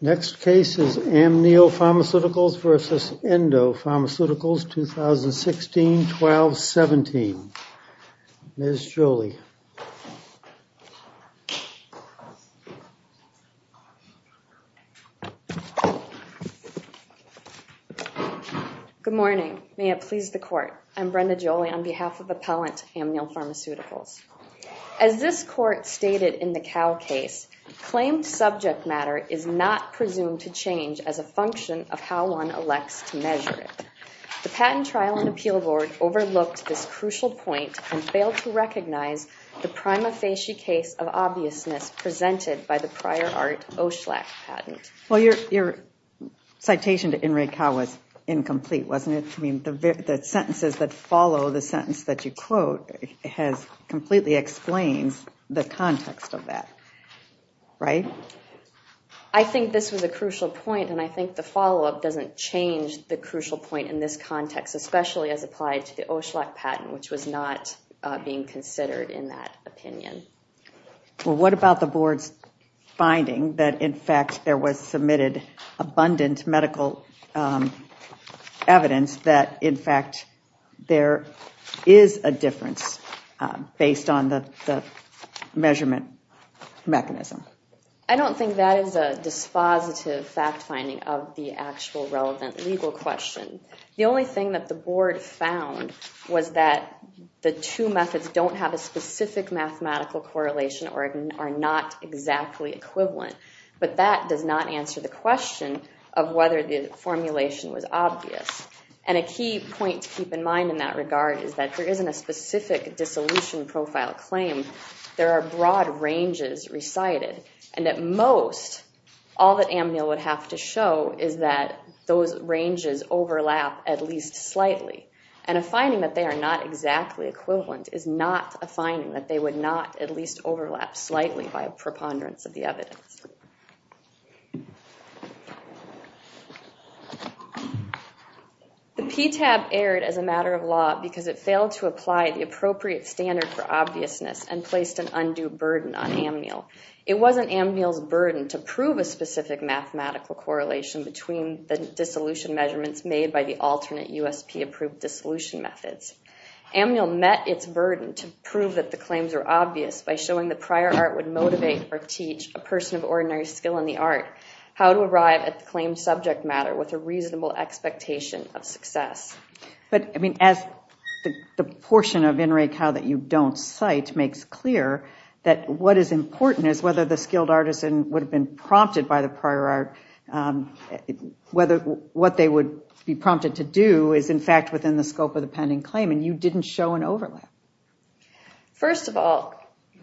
Next case is Amneal Pharmaceuticals v. Endo Pharmaceuticals, 2016-12-17. Ms. Jolie. Good morning. May it please the court. I'm Brenda Jolie on behalf of Appellant Amneal Pharmaceuticals. As this court stated in the Cal case, claimed subject matter is not presumed to change as a function of how one elects to measure it. The patent trial and appeal board overlooked this crucial point and failed to recognize the prima facie case of obviousness presented by the prior art Oshlak patent. Well, your citation to In re Cal was incomplete, wasn't it? I mean, the sentences that follow the sentence that you quote has completely explains the context of that. Right? I think this was a crucial point and I think the follow up doesn't change the crucial point in this context, especially as applied to the Oshlak patent, which was not being considered in that opinion. Well, what about the board's finding that, in fact, there was submitted abundant medical evidence that, in fact, there is a difference based on the measurement mechanism? I don't think that is a dispositive fact finding of the actual relevant legal question. The only thing that the board found was that the two methods don't have a specific mathematical correlation or are not exactly equivalent. But that does not answer the question of whether the formulation was obvious. And a key point to keep in mind in that regard is that there isn't a specific dissolution profile claim. There are broad ranges recited. And at most, all that Amnil would have to show is that those ranges overlap at least slightly. And a finding that they are not exactly equivalent is not a finding that they would not at least overlap slightly by a preponderance of the evidence. The PTAB erred as a matter of law because it failed to apply the appropriate standard for obviousness and placed an undue burden on Amnil. It wasn't Amnil's burden to prove a specific mathematical correlation between the dissolution measurements made by the alternate USP approved dissolution methods. Amnil met its burden to prove that the claims were obvious by showing that prior art would motivate or teach a person of ordinary skill in the art how to arrive at the claimed subject matter with a reasonable expectation of success. But I mean, as the portion of In Re Cal that you don't cite makes clear, that what is important is whether the skilled artisan would have been prompted by the prior art, whether what they would be prompted to do is, in fact, within the scope of the pending claim. And you didn't show an overlap. First of all,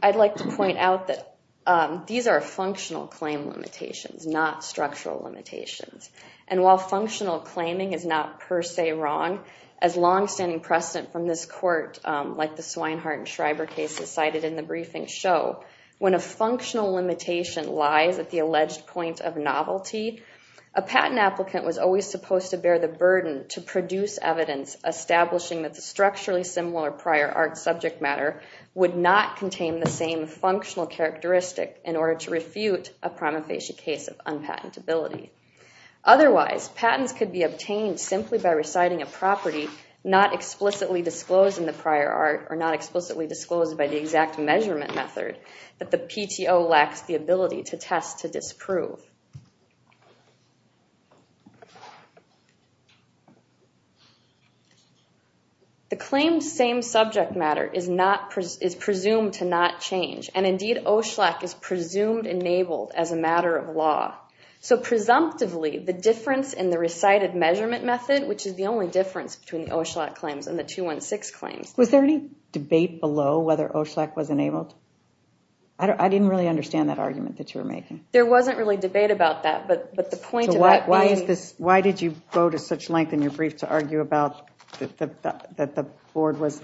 I'd like to point out that these are functional claim limitations, not structural limitations. And while functional claiming is not per se wrong, as longstanding precedent from this court, like the Swinehart and Schreiber cases cited in the briefing show, when a functional limitation lies at the alleged point of novelty, a patent applicant was always supposed to bear the burden to produce evidence establishing that the structurally similar prior art subject matter would not contain the same functional characteristic in order to refute a prima facie case of unpatentability. Otherwise, patents could be obtained simply by reciting a property not explicitly disclosed in the prior art or not explicitly disclosed by the exact measurement method that the PTO lacks the ability to test to disprove. The claimed same subject matter is presumed to not change. And indeed, OSHLAC is presumed enabled as a matter of law. So presumptively, the difference in the recited measurement method, which is the only difference between the OSHLAC claims and the 216 claims. Was there any debate below whether OSHLAC was enabled? I didn't really understand that argument that you were making. There wasn't really debate about that, but the point of that being. Why did you go to such length in your brief to argue about that the board was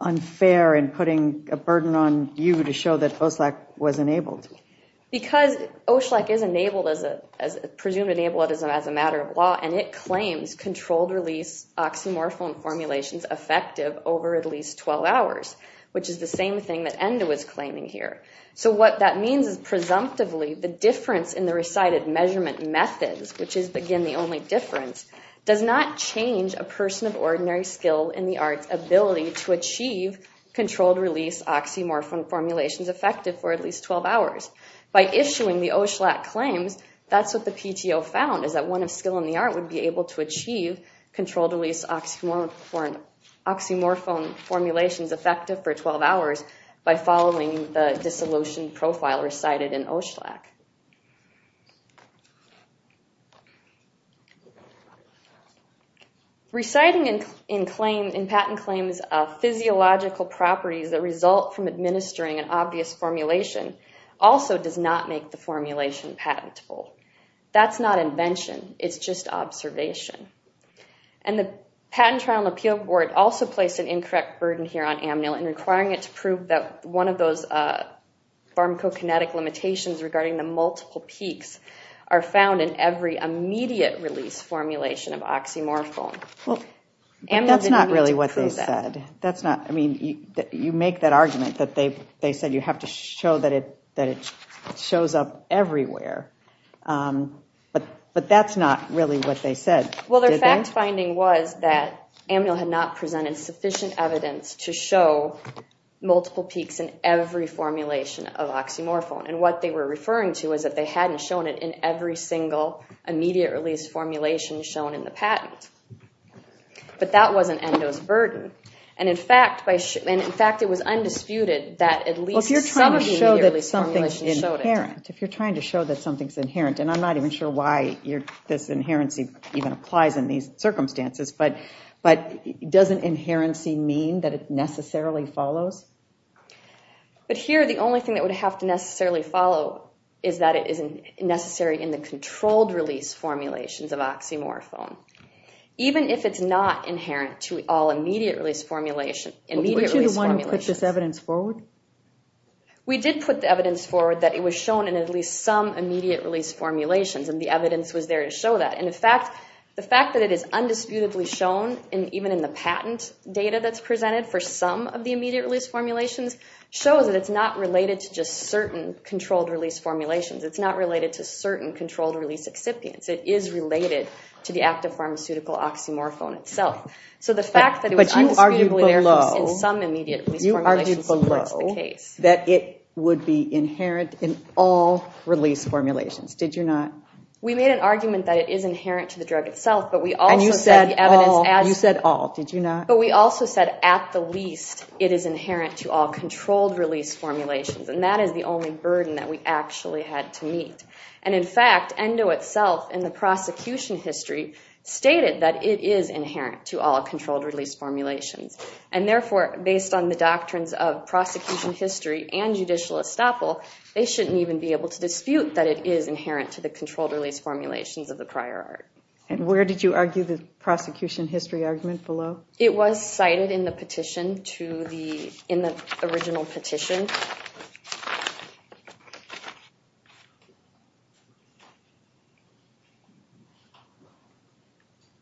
unfair in putting a burden on you to show that OSHLAC was enabled? Because OSHLAC is presumed enabled as a matter of law, and it claims controlled release oxymorphone formulations effective over at least 12 hours, which is the same thing that ENDO was claiming here. So what that means is presumptively the difference in the recited measurement methods, which is again the only difference, does not change a person of ordinary skill in the arts ability to achieve controlled release oxymorphone formulations effective for at least 12 hours. By issuing the OSHLAC claims, that's what the PTO found, is that one of skill in the art would be able to achieve controlled release oxymorphone formulations effective for 12 hours by following the dissolution profile recited in OSHLAC. Reciting in patent claims physiological properties that result from administering an obvious formulation also does not make the formulation patentable. That's not invention. It's just observation. And the Patent Trial and Appeal Board also placed an incorrect burden here on Amnil in requiring it to prove that one of those pharmacokinetic limitations regarding the multiple peaks are found in every immediate release formulation of oxymorphone. That's not really what they said. You make that argument that they said you have to show that it shows up everywhere, but that's not really what they said. Well, their fact finding was that Amnil had not presented sufficient evidence to show multiple peaks in every formulation of oxymorphone. And what they were referring to is that they hadn't shown it in every single immediate release formulation shown in the patent. But that wasn't Endo's burden. And in fact, it was undisputed that at least some of the immediate release formulations showed it. If you're trying to show that something's inherent, and I'm not even sure why this inherency even applies in these circumstances, but doesn't inherency mean that it necessarily follows? But here the only thing that would have to necessarily follow is that it is necessary in the controlled release formulations of oxymorphone. Even if it's not inherent to all immediate release formulations. Would you be the one who put this evidence forward? We did put the evidence forward that it was shown in at least some immediate release formulations, and the evidence was there to show that. And in fact, the fact that it is undisputedly shown, even in the patent data that's presented for some of the immediate release formulations, shows that it's not related to just certain controlled release formulations. It's not related to certain controlled release excipients. It is related to the active pharmaceutical oxymorphone itself. But you argued below that it would be inherent in all release formulations, did you not? We made an argument that it is inherent to the drug itself, but we also said at the least it is inherent to all controlled release formulations. And that is the only burden that we actually had to meet. And in fact, ENDO itself, in the prosecution history, stated that it is inherent to all controlled release formulations. And therefore, based on the doctrines of prosecution history and judicial estoppel, they shouldn't even be able to dispute that it is inherent to the controlled release formulations of the prior art. And where did you argue the prosecution history argument below? It was cited in the petition, in the original petition.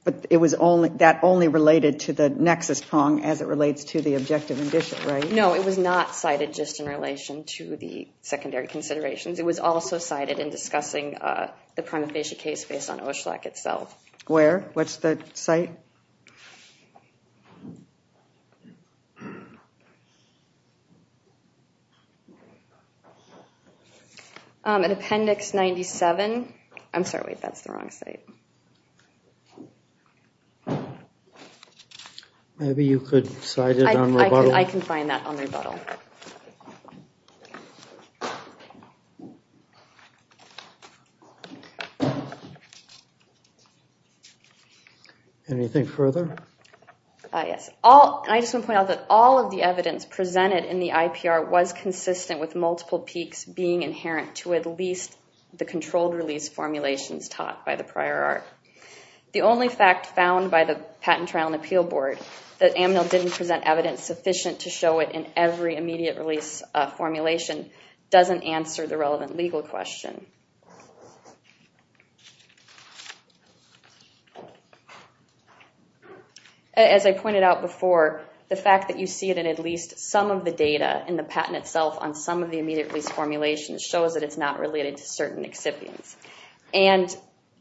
But that only related to the nexus prong as it relates to the objective indicia, right? No, it was not cited just in relation to the secondary considerations. It was also cited in discussing the prima facie case based on Oshlak itself. Where? What's the site? In appendix 97. I'm sorry, wait, that's the wrong site. Maybe you could cite it on rebuttal. I can find that on rebuttal. Anything further? Yes. I just want to point out that all of the evidence presented in the IPR was consistent with multiple peaks being inherent to at least the controlled release formulations taught by the prior art. The only fact found by the Patent, Trial, and Appeal Board that Amnil didn't present evidence sufficient to show it in every immediate release formulation doesn't answer the relevant legal question. As I pointed out before, the fact that you see it in at least some of the data in the patent itself on some of the immediate release formulations shows that it's not related to certain excipients. And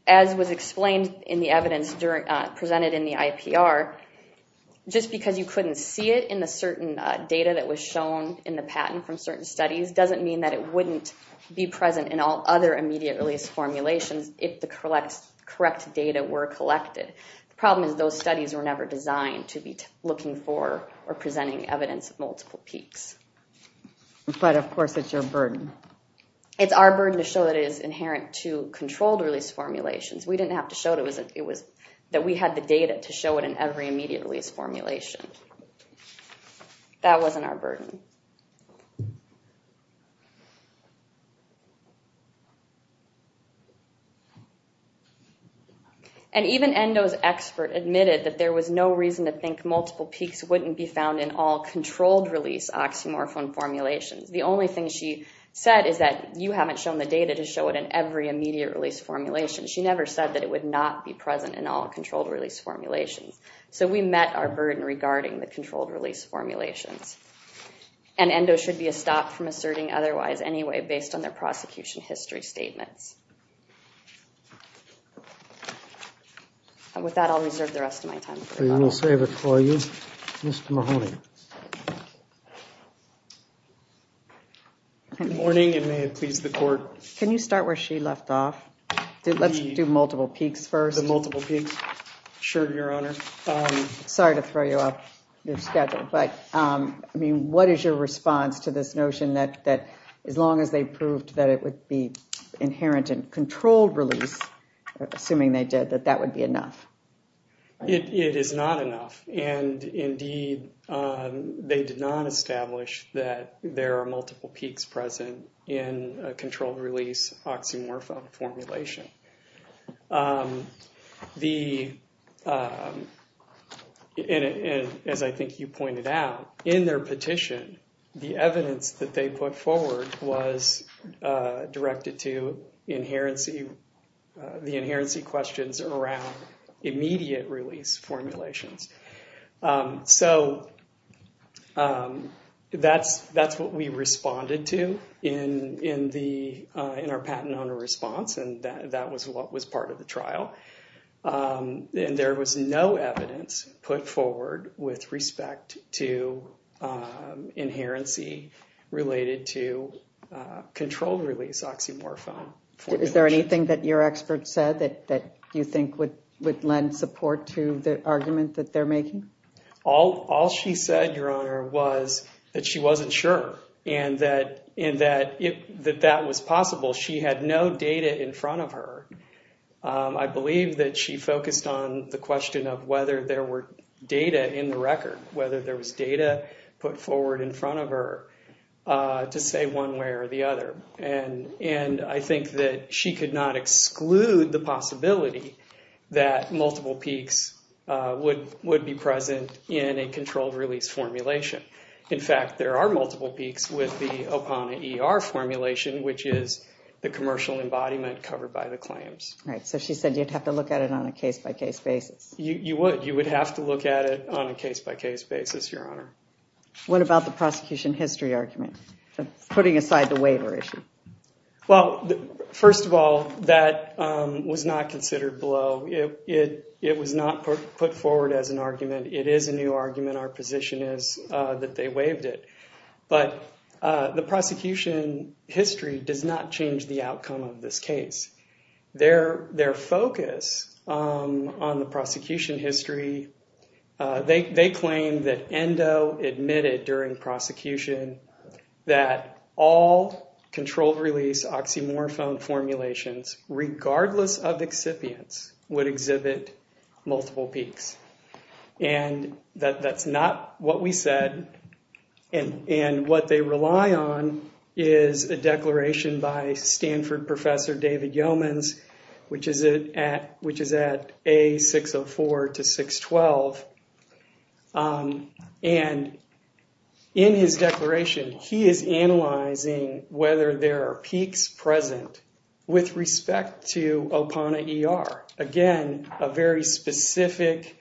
as was explained in the evidence presented in the IPR, just because you couldn't see it in the certain data that was shown in the patent from certain studies doesn't mean that it wouldn't be present in all other immediate release formulations if the correct data were collected. The problem is those studies were never designed to be looking for or presenting evidence of multiple peaks. But of course it's your burden. It's our burden to show that it is inherent to controlled release formulations. We didn't have to show that we had the data to show it in every immediate release formulation. That wasn't our burden. And even Endo's expert admitted that there was no reason to think multiple peaks wouldn't be found in all controlled release oxymorphone formulations. The only thing she said is that you haven't shown the data to show it in every immediate release formulation. She never said that it would not be present in all controlled release formulations. So we met our burden regarding the controlled release formulations. And Endo should be stopped from asserting otherwise anyway based on their prosecution history statements. And with that I'll reserve the rest of my time. We will save it for you. Mr. Mahoney. Good morning and may it please the court. Can you start where she left off? Let's do multiple peaks first. The multiple peaks. Sure, Your Honor. Sorry to throw you off your schedule. But what is your response to this notion that as long as they proved that it would be inherent in controlled release, assuming they did, that that would be enough? It is not enough. And indeed, they did not establish that there are multiple peaks present in a controlled release oxymorphone formulation. As I think you pointed out, in their petition, the evidence that they put forward was directed to the inherency questions around immediate release formulations. So that's what we responded to in our patent owner response. And that was what was part of the trial. And there was no evidence put forward with respect to inherency related to controlled release oxymorphone. Is there anything that your expert said that you think would lend support to the argument that they're making? All she said, Your Honor, was that she wasn't sure and that that was possible. She had no data in front of her. I believe that she focused on the question of whether there were data in the record, whether there was data put forward in front of her to say one way or the other. And I think that she could not exclude the possibility that multiple peaks would be present in a controlled release formulation. In fact, there are multiple peaks with the APANA ER formulation, which is the commercial embodiment covered by the claims. So she said you'd have to look at it on a case-by-case basis. You would. You would have to look at it on a case-by-case basis, Your Honor. What about the prosecution history argument, putting aside the waiver issue? Well, first of all, that was not considered below. It was not put forward as an argument. It is a new argument. Our position is that they waived it. But the prosecution history does not change the outcome of this case. Their focus on the prosecution history, they claim that ENDO admitted during prosecution that all controlled release oxymorphone formulations, regardless of excipients, would exhibit multiple peaks. And that's not what we said. And what they rely on is a declaration by Stanford professor David Yeomans, which is at A604 to 612. And in his declaration, he is analyzing whether there are peaks present with respect to APANA ER. Again, a very specific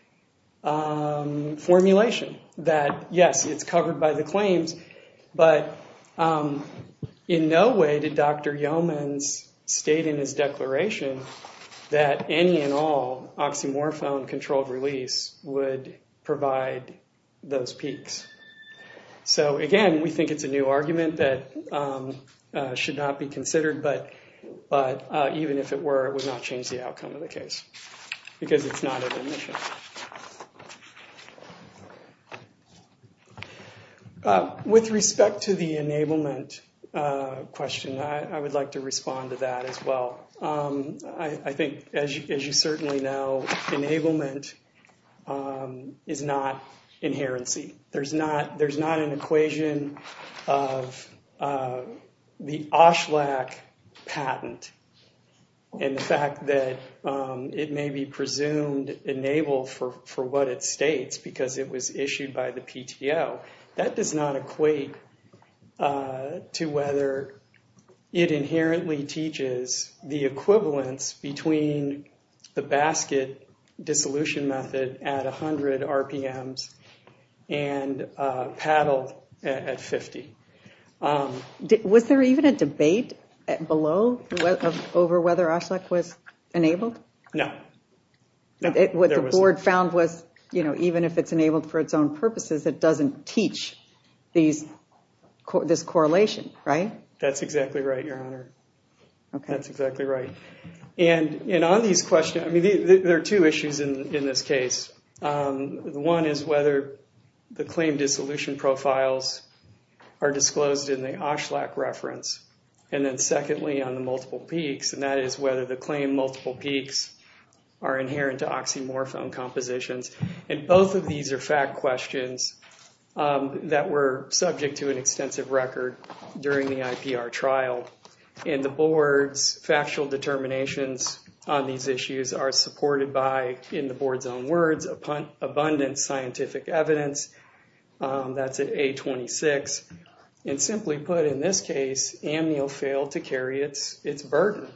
formulation that, yes, it's covered by the claims, but in no way did Dr. Yeomans state in his declaration that any and all oxymorphone controlled release would provide those peaks. So, again, we think it's a new argument that should not be considered, but even if it were, it would not change the outcome of the case because it's not an admission. With respect to the enablement question, I would like to respond to that as well. I think, as you certainly know, enablement is not inherency. There's not an equation of the Oshlak patent and the fact that it may be presumed enable for what it states because it was issued by the PTO. That does not equate to whether it inherently teaches the equivalence between the basket dissolution method at 100 RPMs and paddle at 50. Was there even a debate below over whether Oshlak was enabled? No. What the board found was even if it's enabled for its own purposes, it doesn't teach this correlation, right? That's exactly right, Your Honor. That's exactly right. On these questions, there are two issues in this case. One is whether the claim dissolution profiles are disclosed in the Oshlak reference, and then, secondly, on the multiple peaks, and that is whether the claim multiple peaks are inherent to oxymorphone compositions. Both of these are fact questions that were subject to an extensive record during the IPR trial. The board's factual determinations on these issues are supported by, in the board's own words, abundant scientific evidence. That's at A26. Simply put, in this case, Amnio failed to carry its burden.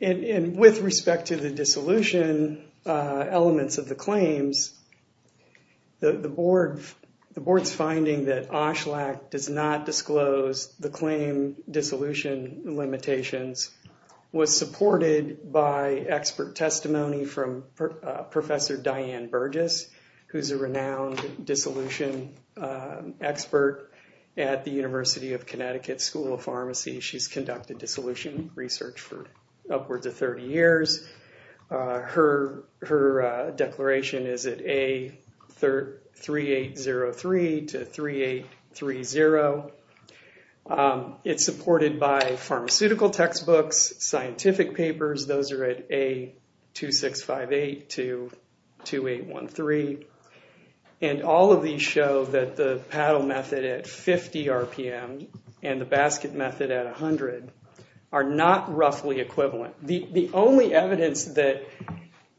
With respect to the dissolution elements of the claims, the board's finding that Oshlak does not disclose the claim dissolution limitations was supported by expert testimony from Professor Diane Burgess, who's a renowned dissolution expert at the University of Connecticut School of Pharmacy. She's conducted dissolution research for upwards of 30 years. Her declaration is at A3803 to 3830. It's supported by pharmaceutical textbooks, scientific papers. Those are at A2658 to 2813. All of these show that the paddle method at 50 RPM and the basket method at 100 are not roughly equivalent. The only evidence that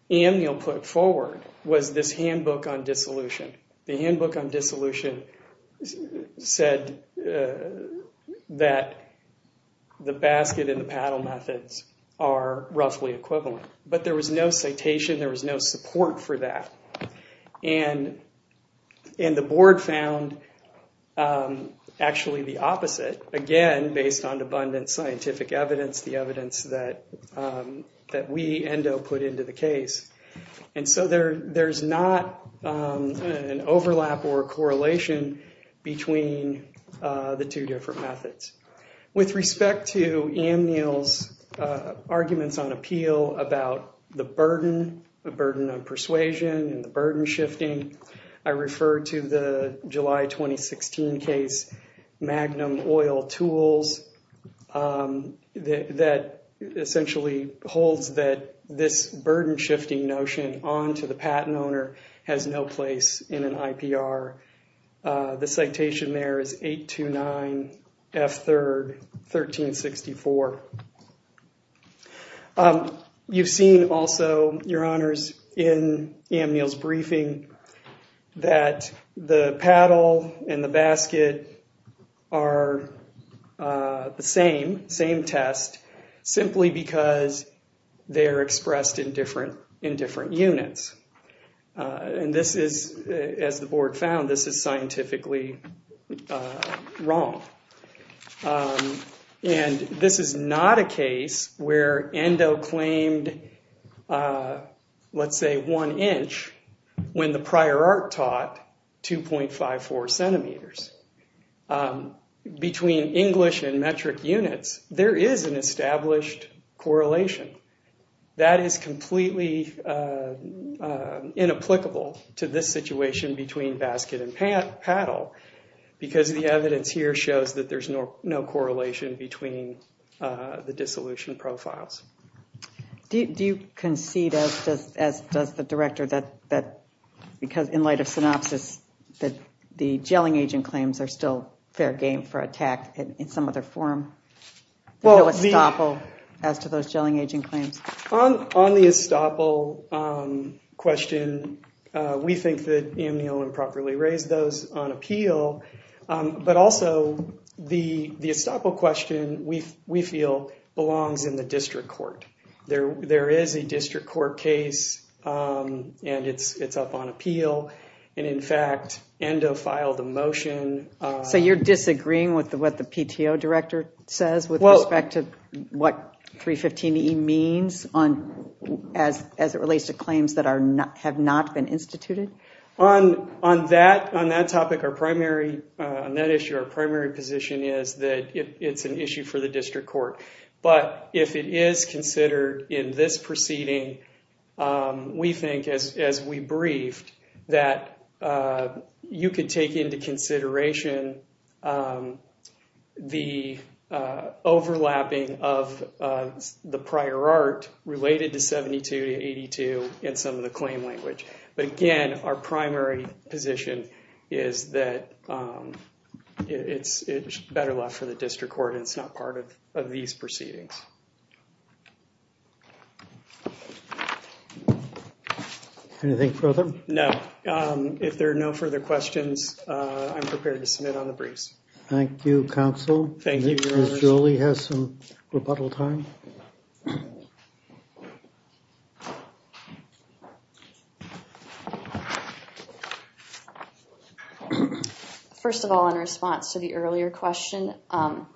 Amnio put forward was this handbook on dissolution. The handbook on dissolution said that the basket and the paddle methods are roughly equivalent. But there was no citation, there was no support for that. Again, based on abundant scientific evidence, the evidence that we, ENDO, put into the case. There's not an overlap or a correlation between the two different methods. With respect to Amnio's arguments on appeal about the burden, the burden of persuasion and the burden shifting, I refer to the July 2016 case Magnum Oil Tools that essentially holds that this burden shifting notion onto the patent owner has no place in an IPR. The citation there is 829 F3, 1364. You've seen also, your honors, in Amnio's briefing that the paddle and the basket are the same test simply because they're expressed in different units. And this is, as the board found, this is scientifically wrong. And this is not a case where ENDO claimed, let's say, one inch when the prior art taught 2.54 centimeters. Between English and metric units, there is an established correlation. That is completely inapplicable to this situation between basket and paddle because the evidence here shows that there's no correlation between the dissolution profiles. Do you concede, as does the director, that because in light of synopsis, that the gelling agent claims are still fair game for attack in some other form? No estoppel as to those gelling agent claims? On the estoppel question, we think that Amnio improperly raised those on appeal. But also, the estoppel question, we feel, belongs in the district court. There is a district court case, and it's up on appeal. And in fact, ENDO filed a motion. So you're disagreeing with what the PTO director says with respect to what 315E means as it relates to claims that have not been instituted? On that topic, on that issue, our primary position is that it's an issue for the district court. But if it is considered in this proceeding, we think, as we briefed, that you could take into consideration the overlapping of the prior art related to 72 to 82 in some of the claim language. But again, our primary position is that it's better left for the district court and it's not part of these proceedings. Anything further? No. If there are no further questions, I'm prepared to submit on the briefs. Thank you, counsel. Ms. Jolie has some rebuttal time. First of all, in response to the earlier question,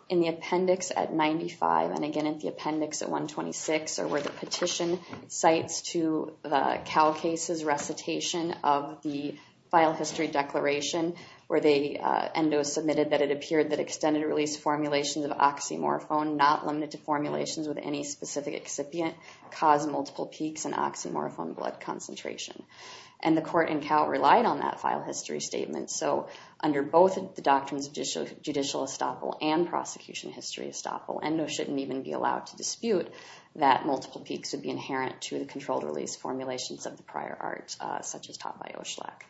in the appendix at 95, and again in the appendix at 126, are where the petition cites to the CalCases recitation of the file history declaration where the ENDO submitted that it appeared that extended release formulations of oxymorphone, not limited to formulations with any specific excipient, caused multiple peaks in oxymorphone blood concentration. And the court in Cal relied on that file history statement. So under both the doctrines of judicial estoppel and prosecution history estoppel, ENDO shouldn't even be allowed to dispute that multiple peaks would be inherent to the controlled release formulations of the prior art such as taught by Oshlak.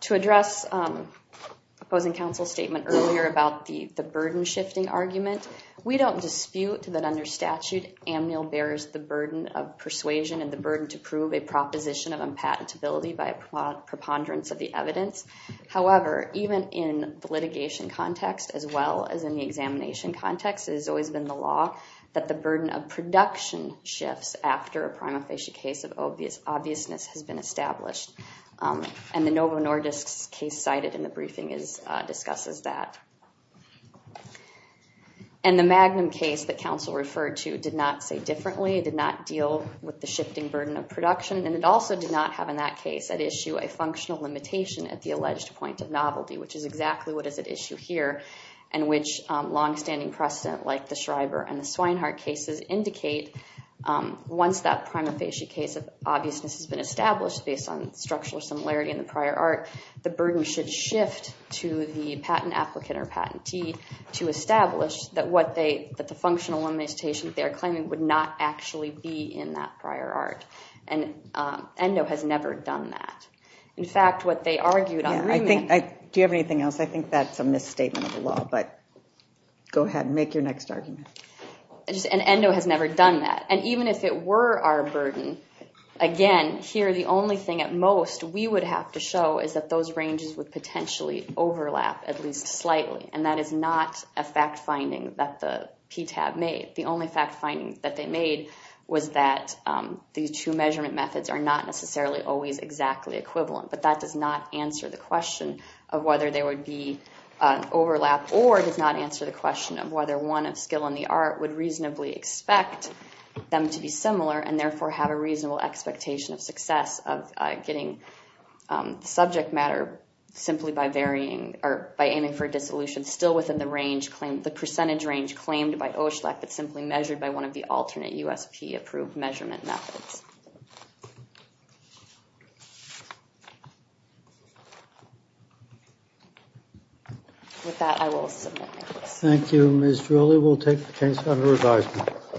To address opposing counsel's statement earlier about the burden-shifting argument, we don't dispute that under statute, Amnil bears the burden of persuasion and the burden to prove a proposition of unpatentability by a preponderance of the evidence. However, even in the litigation context, as well as in the examination context, it has always been the law that the burden of production shifts after a prima facie case of obviousness has been established. And the Novo Nordisk case cited in the briefing discusses that. And the Magnum case that counsel referred to did not say differently, did not deal with the shifting burden of production, and it also did not have in that case at issue a functional limitation at the alleged point of novelty, which is exactly what is at issue here and which longstanding precedent like the Schreiber and the Swinehart cases indicate once that prima facie case of obviousness has been established based on structural similarity in the prior art, the burden should shift to the patent applicant or patentee to establish that the functional limitation they are claiming would not actually be in that prior art. And ENDO has never done that. In fact, what they argued on the agreement. Do you have anything else? I think that's a misstatement of the law. But go ahead and make your next argument. And ENDO has never done that. And even if it were our burden, again, here the only thing at most we would have to show is that those ranges would potentially overlap at least slightly, and that is not a fact finding that the PTAB made. The only fact finding that they made was that these two measurement methods are not necessarily always exactly equivalent. But that does not answer the question of whether there would be overlap or does not answer the question of whether one of skill in the art would reasonably expect them to be similar and therefore have a reasonable expectation of success of getting subject matter simply by varying or by aiming for dissolution still within the range claimed, the percentage range claimed by OSHLAC that's simply measured by one of the alternate USP-approved measurement methods. With that, I will submit my case. Thank you, Ms. Drulli. We'll take the case under advisement.